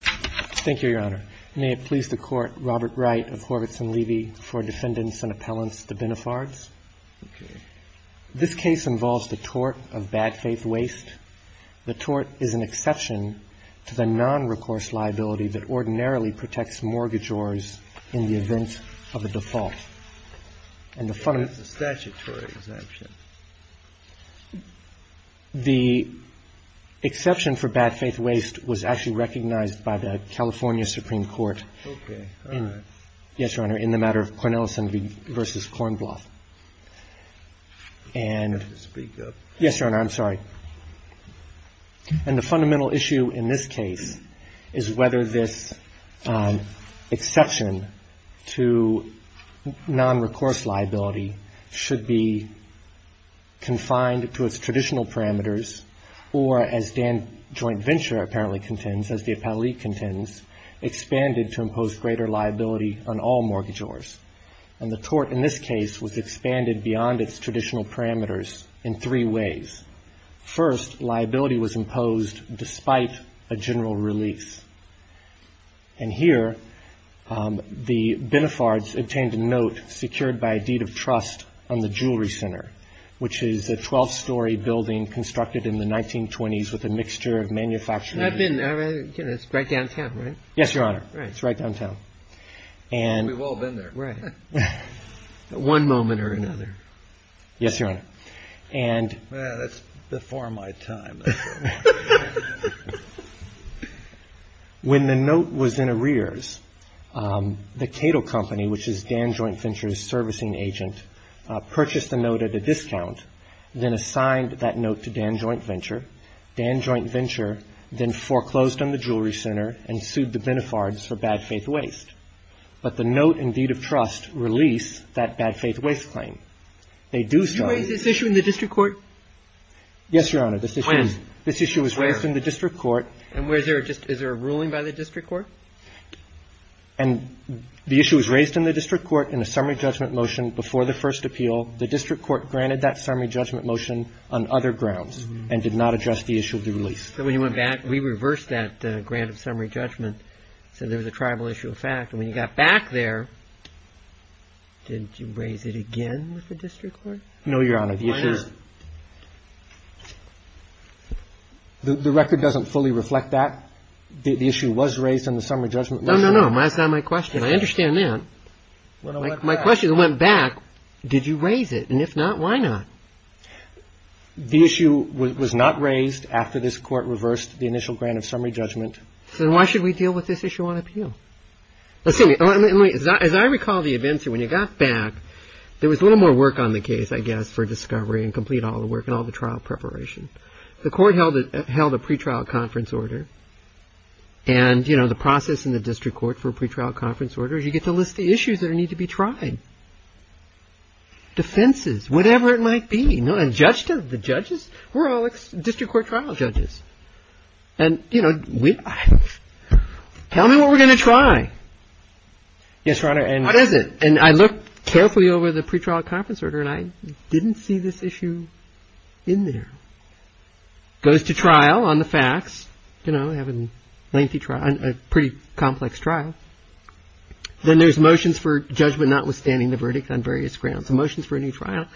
Thank you, Your Honor. May it please the Court, Robert Wright of Horvitz & Levy, for defendants and appellants, the Binafards. This case involves the tort of bad-faith waste. The tort is an exception to the non-recourse liability that ordinarily protects mortgagors in the event of a default. And that's a statutory exemption. The exception for bad-faith waste was actually recognized by the California Supreme Court in the matter of Cornelison v. Kornbluth. And the fundamental issue in this case is whether this exception to non-recourse liability should be confined to its traditional parameters or, as D.A.N. JT. VENTURE apparently contends, as the appellee contends, expanded to impose greater liability on all mortgagors. And the tort in this case was expanded beyond its traditional parameters in three ways. First, liability was imposed despite a general release. And here, the Binafards obtained a note secured by a deed of trust on the jewelry center, which is a 12-story building constructed in the 1920s with a mixture of manufacturing and… I've been there. You know, it's right downtown, right? Yes, Your Honor. It's right downtown. We've all been there. Right. At one moment or another. Yes, Your Honor. And… Yeah, that's before my time. When the note was in arrears, the Cato Company, which is D.A.N. JT. VENTURE's servicing agent, purchased the note at a discount, then assigned that note to D.A.N. JT. VENTURE. D.A.N. JT. VENTURE then foreclosed on the jewelry center and sued the Binafards for bad faith waste. But the note and deed of trust release that bad faith waste claim. They do… Did you raise this issue in the district court? Yes, Your Honor. When? This issue was raised in the district court. And is there a ruling by the district court? And the issue was raised in the district court in a summary judgment motion before the first appeal. The district court granted that summary judgment motion on other grounds and did not address the issue of the release. So when you went back, we reversed that grant of summary judgment, said there was a tribal issue of fact. And when you got back there, did you raise it again with the district court? No, Your Honor. Why not? The record doesn't fully reflect that. The issue was raised in the summary judgment motion. No, no, no. That's not my question. I understand that. When I went back. My question is, when I went back, did you raise it? And if not, why not? The issue was not raised after this court reversed the initial grant of summary judgment. Then why should we deal with this issue on appeal? As I recall, D.A.N. JT. VENTURE, when you got back, there was a little more work on the case, I guess, for discovery and complete all the work and all the trial preparation. The court held a pretrial conference order. And, you know, the process in the district court for a pretrial conference order, you get to list the issues that need to be tried. Defenses, whatever it might be. The judges, we're all district court trial judges. And, you know, tell me what we're going to try. Yes, Your Honor. What is it? And I looked carefully over the pretrial conference order, and I didn't see this issue in there. Goes to trial on the facts. You know, they have a lengthy trial, a pretty complex trial. Then there's motions for judgment notwithstanding the verdict on various grounds. Motions for a new trial.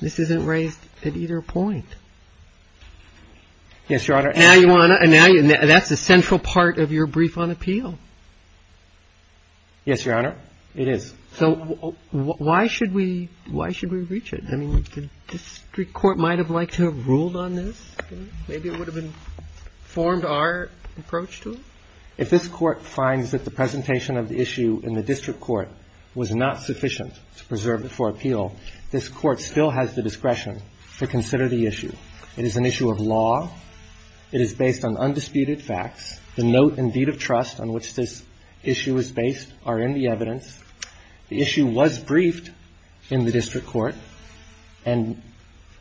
This isn't raised at either point. Yes, Your Honor. Now you want to – that's a central part of your brief on appeal. Yes, Your Honor. It is. So why should we – why should we reach it? I mean, the district court might have liked to have ruled on this. Maybe it would have informed our approach to it. If this Court finds that the presentation of the issue in the district court was not sufficient to preserve it for appeal, this Court still has the discretion to consider the issue. It is an issue of law. It is based on undisputed facts. The note and deed of trust on which this issue is based are in the evidence. The issue was briefed in the district court. And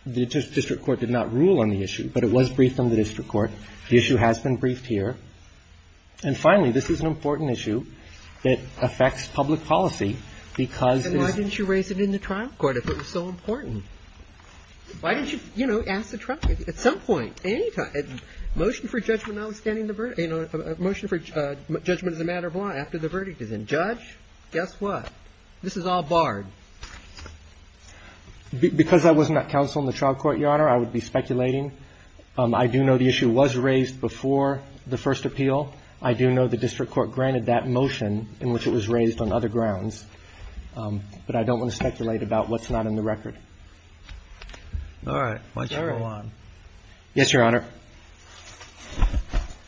the district court did not rule on the issue, but it was briefed on the district court. The issue has been briefed here. And finally, this is an important issue that affects public policy because it is – And why didn't you raise it in the trial court if it was so important? Why didn't you, you know, ask the trial – at some point, any time. Motion for judgment notwithstanding the – motion for judgment as a matter of law after the verdict is in. Judge, guess what? This is all barred. Because I was not counsel in the trial court, Your Honor, I would be speculating. I do know the issue was raised before the first appeal. I do know the district court granted that motion in which it was raised on other grounds. But I don't want to speculate about what's not in the record. All right. Why don't you go on. Yes, Your Honor.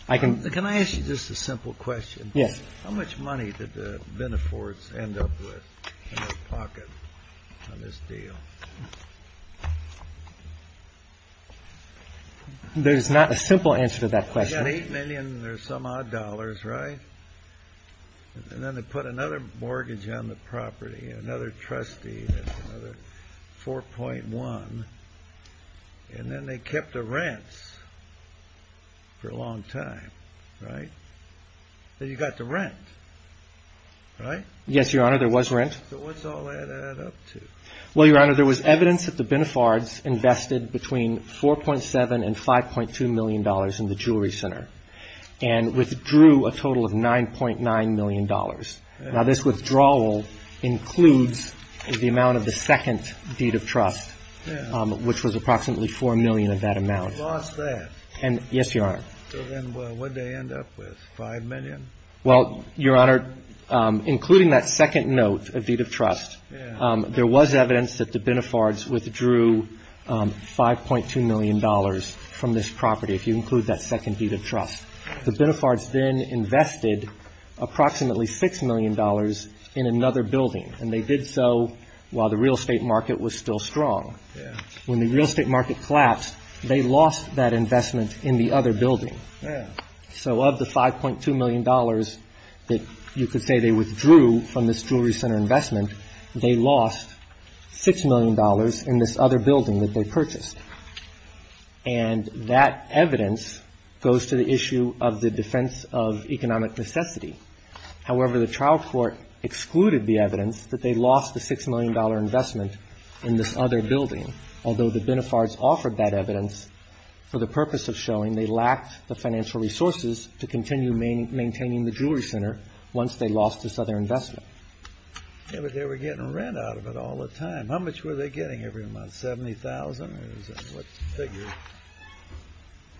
I can – Can I ask you just a simple question? Yes. How much money did the Beneforts end up with in their pocket on this deal? There's not a simple answer to that question. They got $8 million and there's some odd dollars, right? And then they put another mortgage on the property, another trustee, another 4.1. And then they kept the rents for a long time, right? Then you got the rent, right? Yes, Your Honor, there was rent. So what's all that add up to? Well, Your Honor, there was evidence that the Beneforts invested between $4.7 and $5.2 million in the Jewelry Center and withdrew a total of $9.9 million. Now, this withdrawal includes the amount of the second deed of trust, which was approximately $4 million of that amount. They lost that. Yes, Your Honor. So then what did they end up with, $5 million? Well, Your Honor, including that second note of deed of trust, there was evidence that the Beneforts withdrew $5.2 million from this property, if you include that second deed of trust. The Beneforts then invested approximately $6 million in another building, and they did so while the real estate market was still strong. When the real estate market collapsed, they lost that investment in the other building. So of the $5.2 million that you could say they withdrew from this Jewelry Center investment, they lost $6 million in this other building that they purchased. And that evidence goes to the issue of the defense of economic necessity. However, the trial court excluded the evidence that they lost the $6 million investment in this other building, although the Beneforts offered that evidence for the purpose of showing they lacked the financial resources to continue maintaining the Jewelry Center once they lost this other investment. Yeah, but they were getting rent out of it all the time. How much were they getting every month, $70,000? Or is that what's figured?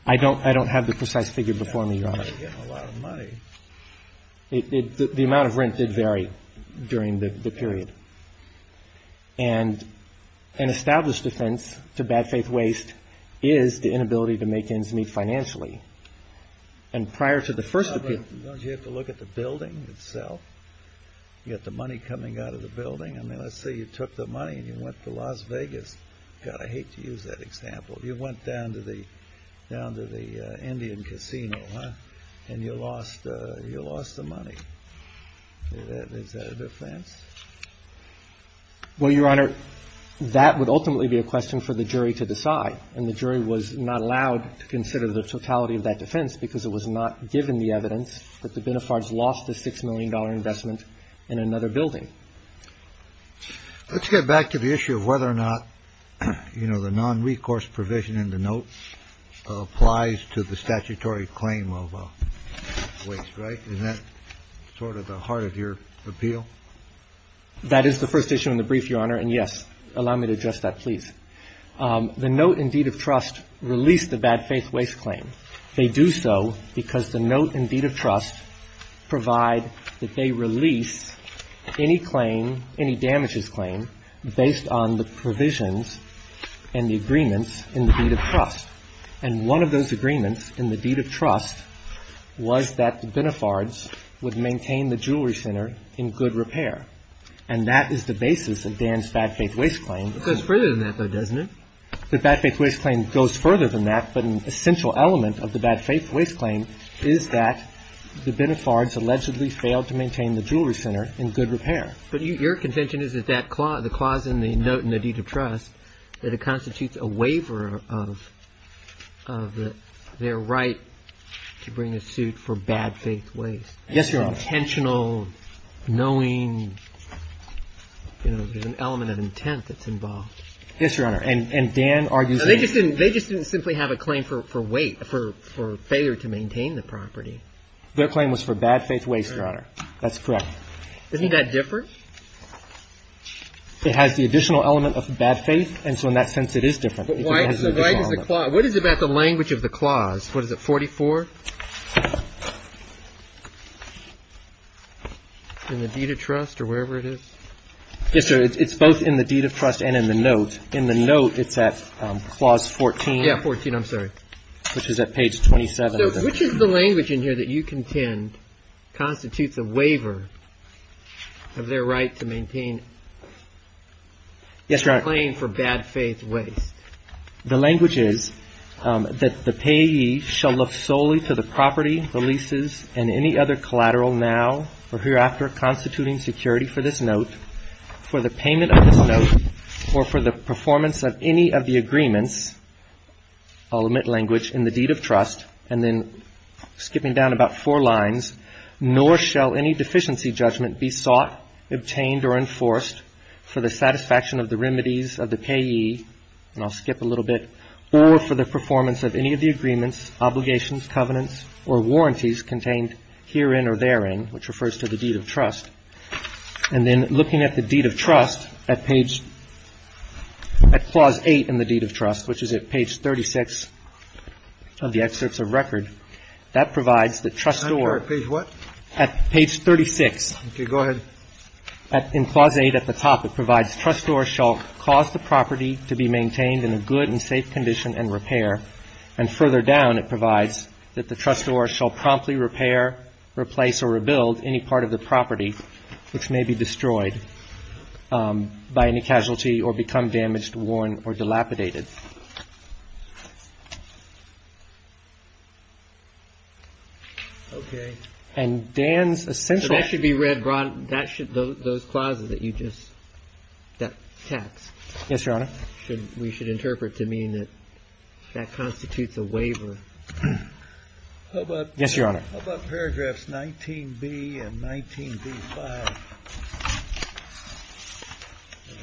I don't have the precise figure before me, Your Honor. They were getting a lot of money. The amount of rent did vary during the period. And an established offense to bad faith waste is the inability to make ends meet financially. And prior to the first appeal — Don't you have to look at the building itself? You got the money coming out of the building? I mean, let's say you took the money and you went to Las Vegas. God, I hate to use that example. You went down to the Indian Casino, huh? And you lost the money. Is that a defense? Well, Your Honor, that would ultimately be a question for the jury to decide. And the jury was not allowed to consider the totality of that defense because it was not given the evidence that the Benefards lost the $6 million investment in another building. Let's get back to the issue of whether or not, you know, the non-recourse provision in the note applies to the statutory claim of waste, right? Is that sort of the heart of your appeal? That is the first issue in the brief, Your Honor. And, yes, allow me to address that, please. The note in deed of trust released the bad faith waste claim. They do so because the note in deed of trust provide that they release any claim, any damages claim based on the provisions and the agreements in the deed of trust. And one of those agreements in the deed of trust was that the Benefards would maintain the Jewelry Center in good repair. And that is the basis of Dan's bad faith waste claim. It goes further than that, though, doesn't it? The bad faith waste claim goes further than that, but an essential element of the bad faith waste claim is that the Benefards allegedly failed to maintain the Jewelry Center in good repair. But your contention is that the clause in the note in the deed of trust, that it constitutes a waiver of their right to bring a suit for bad faith waste. Yes, Your Honor. Intentional, knowing, you know, there's an element of intent that's involved. Yes, Your Honor. And Dan argues that they just didn't simply have a claim for weight, for failure to maintain the property. Their claim was for bad faith waste, Your Honor. That's correct. Isn't that different? It has the additional element of bad faith, and so in that sense it is different. Why does the clause – what is it about the language of the clause? What is it, 44? In the deed of trust or wherever it is? Yes, sir. It's both in the deed of trust and in the note. In the note it's at clause 14. Yeah, 14. I'm sorry. Which is at page 27. So which is the language in here that you contend constitutes a waiver of their right to maintain a claim for bad faith waste? The language is that the payee shall look solely to the property, the leases, and any other collateral now or hereafter constituting security for this note, for the payment of this note, or for the performance of any of the agreements – I'll omit language – in the deed of trust, and then skipping down about four lines, nor shall any deficiency judgment be sought, obtained, or enforced for the satisfaction of the remedies of the payee – and I'll skip a little bit – or for the performance of any of the agreements, obligations, covenants, or warranties contained herein or therein, which refers to the deed of trust. And then looking at the deed of trust at page – at clause 8 in the deed of trust, which is at page 36 of the excerpts of record, that provides that trustor – I'm sorry. Page what? At page 36. Okay. Go ahead. In clause 8 at the top, it provides trustor shall cause the property to be maintained in a good and safe condition and repair, and further down it provides that the trustor shall promptly repair, replace, or rebuild any part of the property which may be destroyed by any casualty or become damaged, worn, or dilapidated. Okay. And Dan's essential – That should – those clauses that you just – that text. Yes, Your Honor. We should interpret to mean that that constitutes a waiver. How about – Yes, Your Honor. How about paragraphs 19B and 19B-5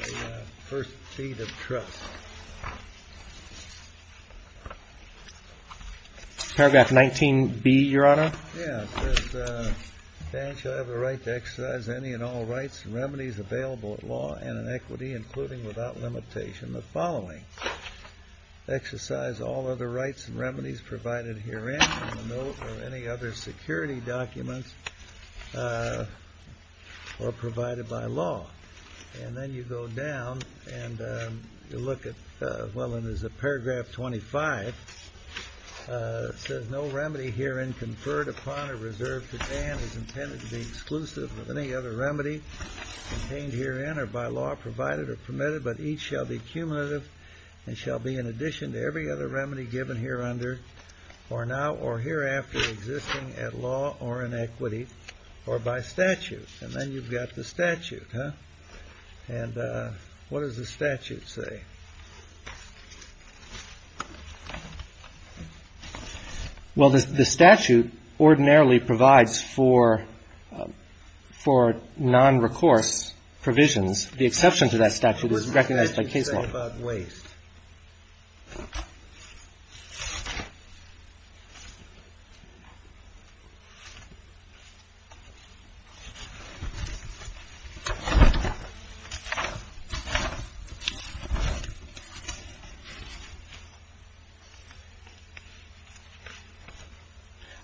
of the first deed of trust? Paragraph 19B, Your Honor? Yes. It says, Banshee, I have a right to exercise any and all rights and remedies available at law and in equity, including without limitation the following. Exercise all other rights and remedies provided herein in the note or any other security documents or provided by law. And then you go down and you look at – well, and there's a paragraph 25. It says, No remedy herein conferred upon or reserved to Dan is intended to be exclusive of any other remedy contained herein or by law provided or permitted, but each shall be cumulative and shall be in addition to every other remedy given hereunder or now or hereafter existing at law or in equity or by statute. And then you've got the statute, huh? And what does the statute say? Well, the statute ordinarily provides for nonrecourse provisions. The exception to that statute is recognized by case law. What about waste?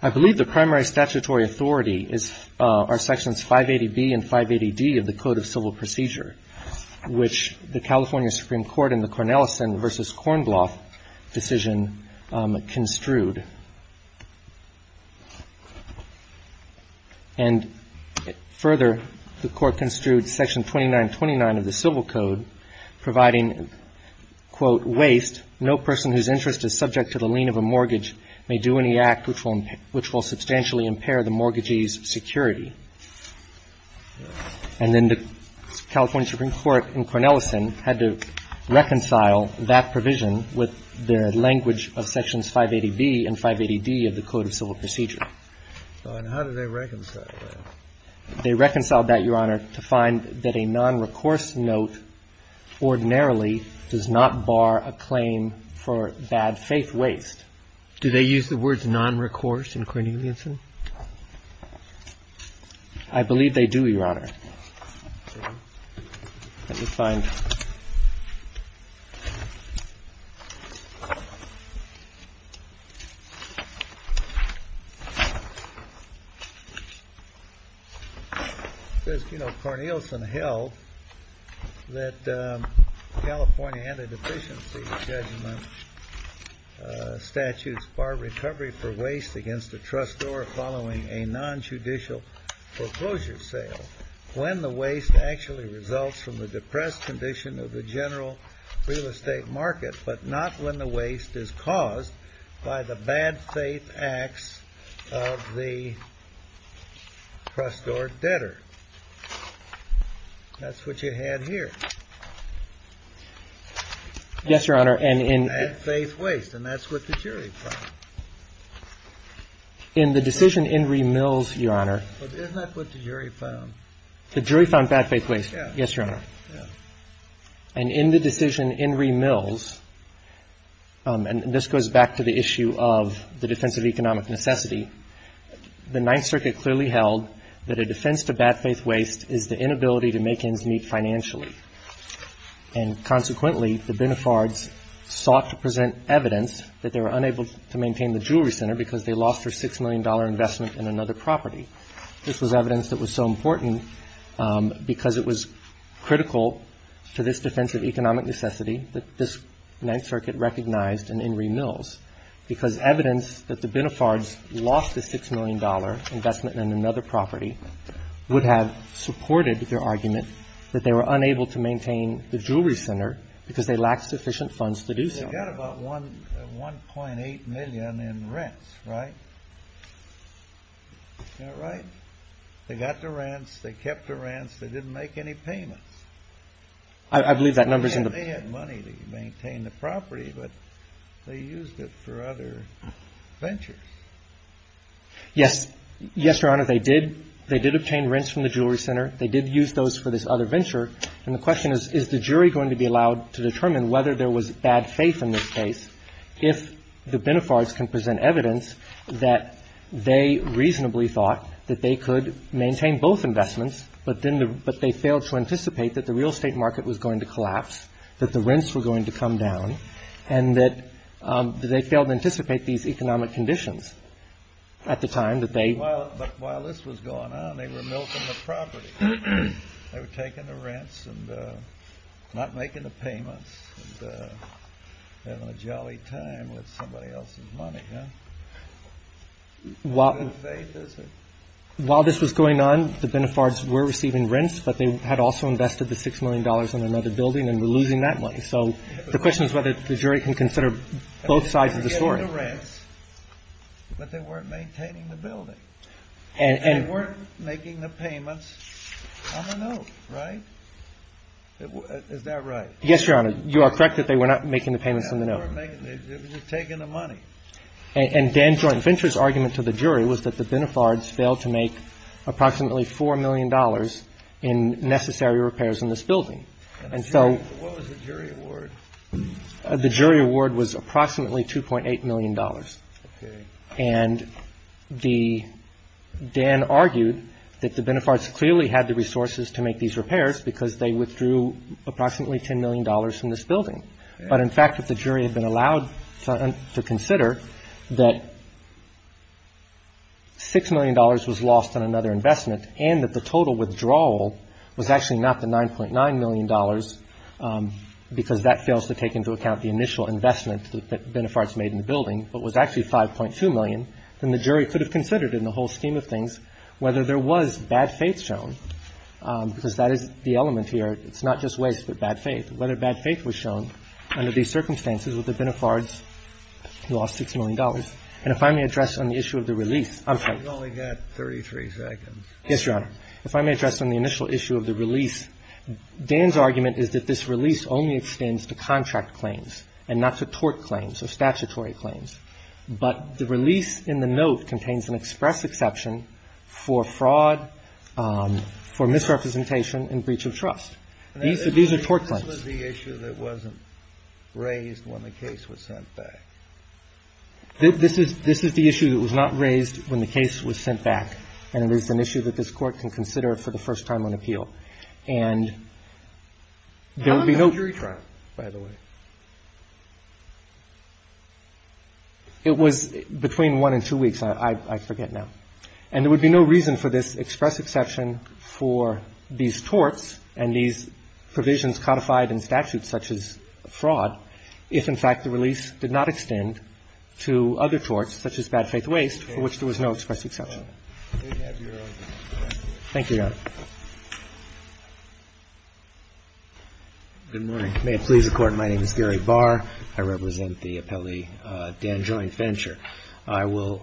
I believe the primary statutory authority are Sections 580B and 580D of the Code of Civil Procedure, which the California Supreme Court in the Cornellison v. Kornbloth decision construed. And further, the Court construed Section 2929 of the Civil Code providing, quote, Waste, no person whose interest is subject to the lien of a mortgage may do any act which will substantially impair the mortgagee's security. And then the California Supreme Court in Cornellison had to reconcile that provision with their language of Sections 580B and 580D of the Code of Civil Procedure. And how did they reconcile that? They reconciled that, Your Honor, to find that a nonrecourse note ordinarily does not bar a claim for bad faith waste. Do they use the words nonrecourse in Cornellison? I believe they do, Your Honor. Let me find it. It says, you know, Cornellison held that California anti-deficiency judgment statutes bar recovery for waste against a trustor following a nonjudicial foreclosure sale when the waste actually results from the depressed condition of the general real estate market, but not when the waste is caused by the bad faith acts of the trustor debtor. That's what you had here. Yes, Your Honor. Bad faith waste. And that's what the jury found. In the decision Inree Mills, Your Honor. Isn't that what the jury found? The jury found bad faith waste. Yes, Your Honor. And in the decision Inree Mills, and this goes back to the issue of the defense of economic necessity, the Ninth Circuit clearly held that a defense to bad faith waste is the inability to make ends meet financially. And consequently, the Benafards sought to present evidence that they were unable to maintain the Jewelry Center because they lost their $6 million investment in another property. This was evidence that was so important because it was critical to this defense of economic necessity that this Ninth Circuit recognized in Inree Mills, because evidence that the Benafards lost a $6 million investment in another property would have supported their argument that they were unable to maintain the Jewelry Center because they lacked sufficient funds to do so. They got about $1.8 million in rents, right? Is that right? They got the rents. They kept the rents. They didn't make any payments. I believe that number is in the... They had money to maintain the property, but they used it for other ventures. Yes. Yes, Your Honor. They did. They did obtain rents from the Jewelry Center. They did use those for this other venture. And the question is, is the jury going to be allowed to determine whether there was bad faith in this case if the Benafards can present evidence that they reasonably thought that they could maintain both investments, but then they failed to anticipate that the real estate market was going to collapse, that the rents were going to come down, and that they failed to anticipate these economic conditions at the time that they... But while this was going on, they were milking the property. They were taking the rents and not making the payments and having a jolly time with somebody else's money, huh? Good faith, is it? While this was going on, the Benafards were receiving rents, but they had also invested the $6 million in another building and were losing that money. So the question is whether the jury can consider both sides of the story. They were getting the rents, but they weren't maintaining the building. They weren't making the payments on the note, right? Is that right? Yes, Your Honor. You are correct that they were not making the payments on the note. They were taking the money. And Dan Joint Venture's argument to the jury was that the Benafards failed to make approximately $4 million in necessary repairs in this building. And so... What was the jury award? The jury award was approximately $2.8 million. Okay. And Dan argued that the Benafards clearly had the resources to make these repairs because they withdrew approximately $10 million from this building. But in fact, if the jury had been allowed to consider that $6 million was lost on another investment and that the total withdrawal was actually not the $9.9 million because that fails to take into account the initial investment that Benafards made in the building, but was actually $5.2 million, then the jury could have considered in the whole scheme of things whether there was bad faith shown, because that is the element here. It's not just waste, but bad faith, whether bad faith was shown under these circumstances with the Benafards who lost $6 million. And if I may address on the issue of the release, I'm sorry. You've only got 33 seconds. Yes, Your Honor. If I may address on the initial issue of the release, Dan's argument is that this release only extends to contract claims and not to tort claims or statutory claims, but the release in the note contains an express exception for fraud, for misrepresentation and breach of trust. These are tort claims. This was the issue that wasn't raised when the case was sent back. This is the issue that was not raised when the case was sent back, and it is an issue that this Court can consider for the first time on appeal. And there would be no ---- How long did the jury try, by the way? It was between one and two weeks. I forget now. And there would be no reason for this express exception for these torts and these provisions codified in statute such as fraud if, in fact, the release did not extend to other torts such as bad faith waste for which there was no express exception. Thank you, Your Honor. Good morning. May it please the Court, my name is Gary Barr. I represent the appellee, Dan Joint-Venture. I will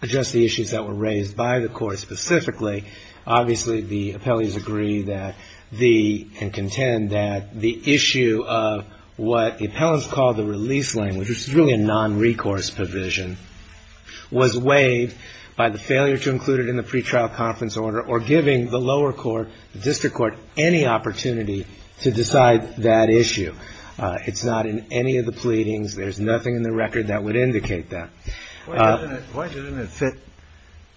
address the issues that were raised by the Court specifically. Obviously, the appellees agree that the ---- and contend that the issue of what the appellants call the release language, which is really a nonrecourse provision, was waived by the failure to include it in the pretrial conference order or giving the lower court, the district court, any opportunity to decide that issue. It's not in any of the pleadings. There's nothing in the record that would indicate that. Why doesn't it fit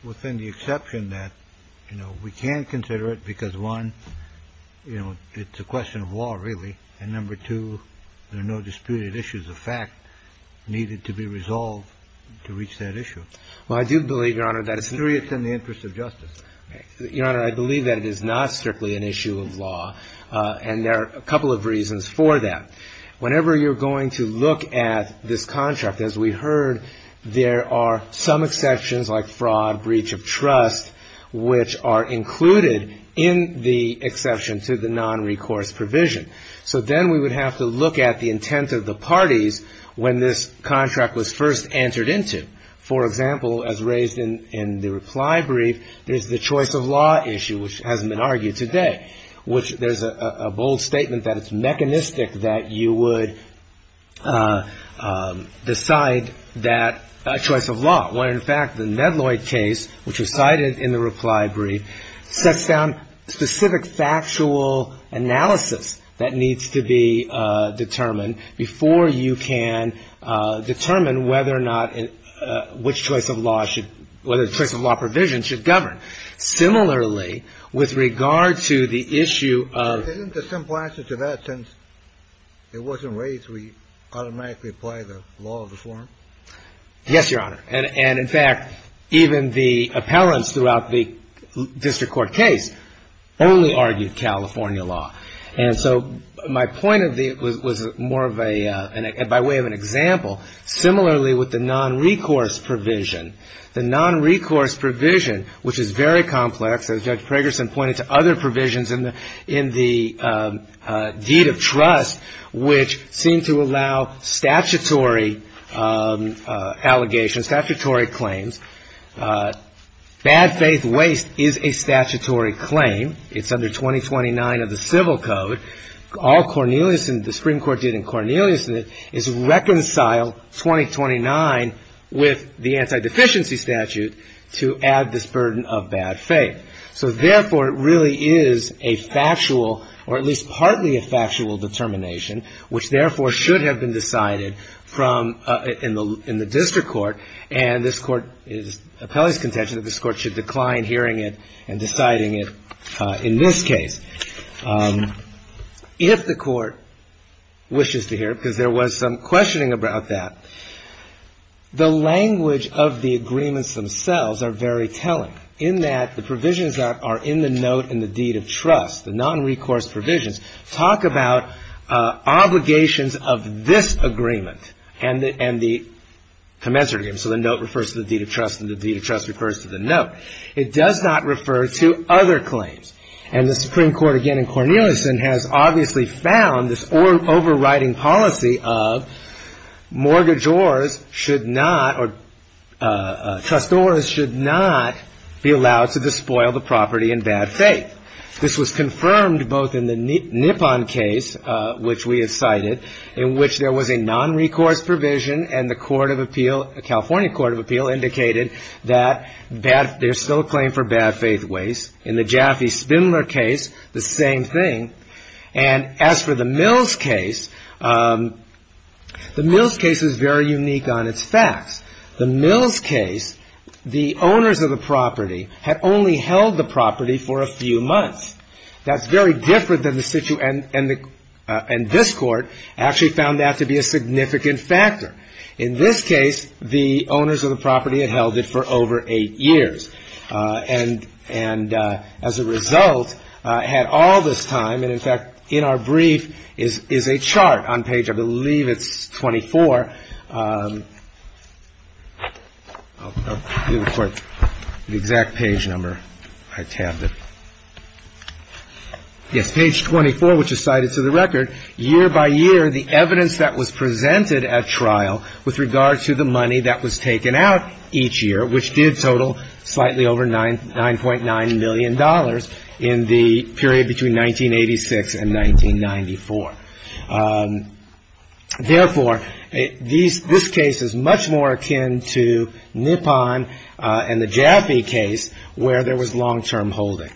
within the exception that, you know, we can consider it because, one, you know, it's a question of law, really, and number two, there are no disputed issues of fact needed to be resolved to reach that issue. Well, I do believe, Your Honor, that it's in the interest of justice. Your Honor, I believe that it is not strictly an issue of law, and there are a couple of reasons for that. Whenever you're going to look at this contract, as we heard, there are some exceptions like fraud, breach of trust, which are included in the exception to the nonrecourse provision. So then we would have to look at the intent of the parties when this contract was first entered into. For example, as raised in the reply brief, there's the choice of law issue, which hasn't been argued today, which there's a bold statement that it's mechanistic that you would decide that choice of law, when, in fact, the Medloy case, which was cited in the reply brief, sets down specific factual analysis that needs to be determined before you can determine whether or not which choice of law should whether the choice of law provision should govern. Similarly, with regard to the issue of Isn't the simple answer to that, since it wasn't raised, we automatically apply the law of reform? Yes, Your Honor. And, in fact, even the appellants throughout the district court case only argued California law. And so my point of view was more of a by way of an example. Similarly, with the nonrecourse provision, the nonrecourse provision, which is very complex, as Judge Pragerson pointed to, other provisions in the deed of trust, which seem to allow statutory allegations, statutory claims. Bad faith waste is a statutory claim. It's under 2029 of the Civil Code. All Cornelius and the Supreme Court did in Cornelius is reconcile 2029 with the anti-deficiency statute to add this burden of bad faith. So, therefore, it really is a factual, or at least partly a factual determination, which, therefore, should have been decided from in the district court. And this court is appellee's contention that this court should decline hearing it and deciding it in this case. If the court wishes to hear, because there was some questioning about that, the language of the agreements themselves are very telling. In that the provisions that are in the note in the deed of trust, the nonrecourse provisions, talk about obligations of this agreement and the commensurate agreement. So the note refers to the deed of trust and the deed of trust refers to the note. It does not refer to other claims. And the Supreme Court, again in Cornelius, has obviously found this overriding policy of mortgagors should not, or trustors should not be allowed to despoil the property in bad faith. This was confirmed both in the Nippon case, which we have cited, in which there was a nonrecourse provision and the Court of Appeal, the California Court of Appeal, indicated that there's still a claim for bad faith waste. In the Jaffe-Spindler case, the same thing. And as for the Mills case, the Mills case is very unique on its facts. The Mills case, the owners of the property had only held the property for a few months. That's very different than the situation, and this court actually found that to be a significant factor. In this case, the owners of the property had held it for over eight years. And as a result, had all this time, and in fact, in our brief, is a chart on page, I believe, it's 24. I believe, of course, the exact page number I tabbed it. Yes, page 24, which is cited to the record. Year by year, the evidence that was presented at trial with regard to the money that was taken out each year, which did total slightly over $9.9 million in the period between 1986 and 1994. Therefore, this case is much more akin to Nippon and the Jaffe case where there was long-term holding.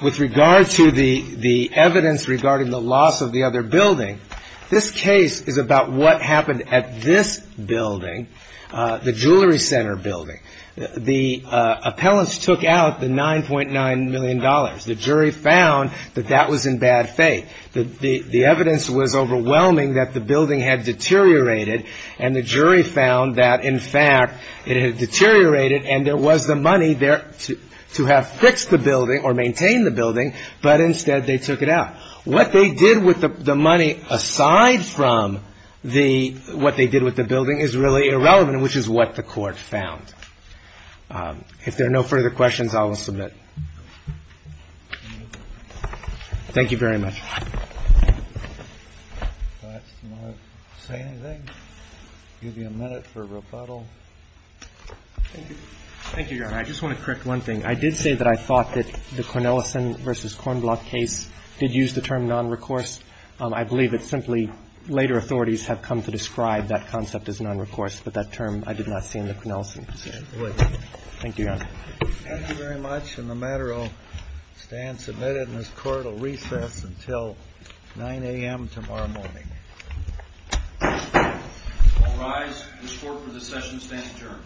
With regard to the evidence regarding the loss of the other building, this case is about what happened at this building, the Jewelry Center building. The appellants took out the $9.9 million. The jury found that that was in bad faith. The evidence was overwhelming that the building had deteriorated, and the jury found that, in fact, it had deteriorated, and there was the money there to have fixed the building or maintain the building, but instead they took it out. What they did with the money, aside from the what they did with the building, is really irrelevant, which is what the Court found. If there are no further questions, I will submit. Thank you very much. Do you want to say anything? I'll give you a minute for rebuttal. Thank you, Your Honor. I just want to correct one thing. I did say that I thought that the Cornelison v. Cornblock case did use the term nonrecourse. I believe it's simply later authorities have come to describe that concept as nonrecourse, but that term I did not see in the Cornelison case. Thank you, Your Honor. Thank you very much. And the matter will stand submitted, and this Court will recess until 9 a.m. tomorrow morning. All rise. This Court for this session stands adjourned.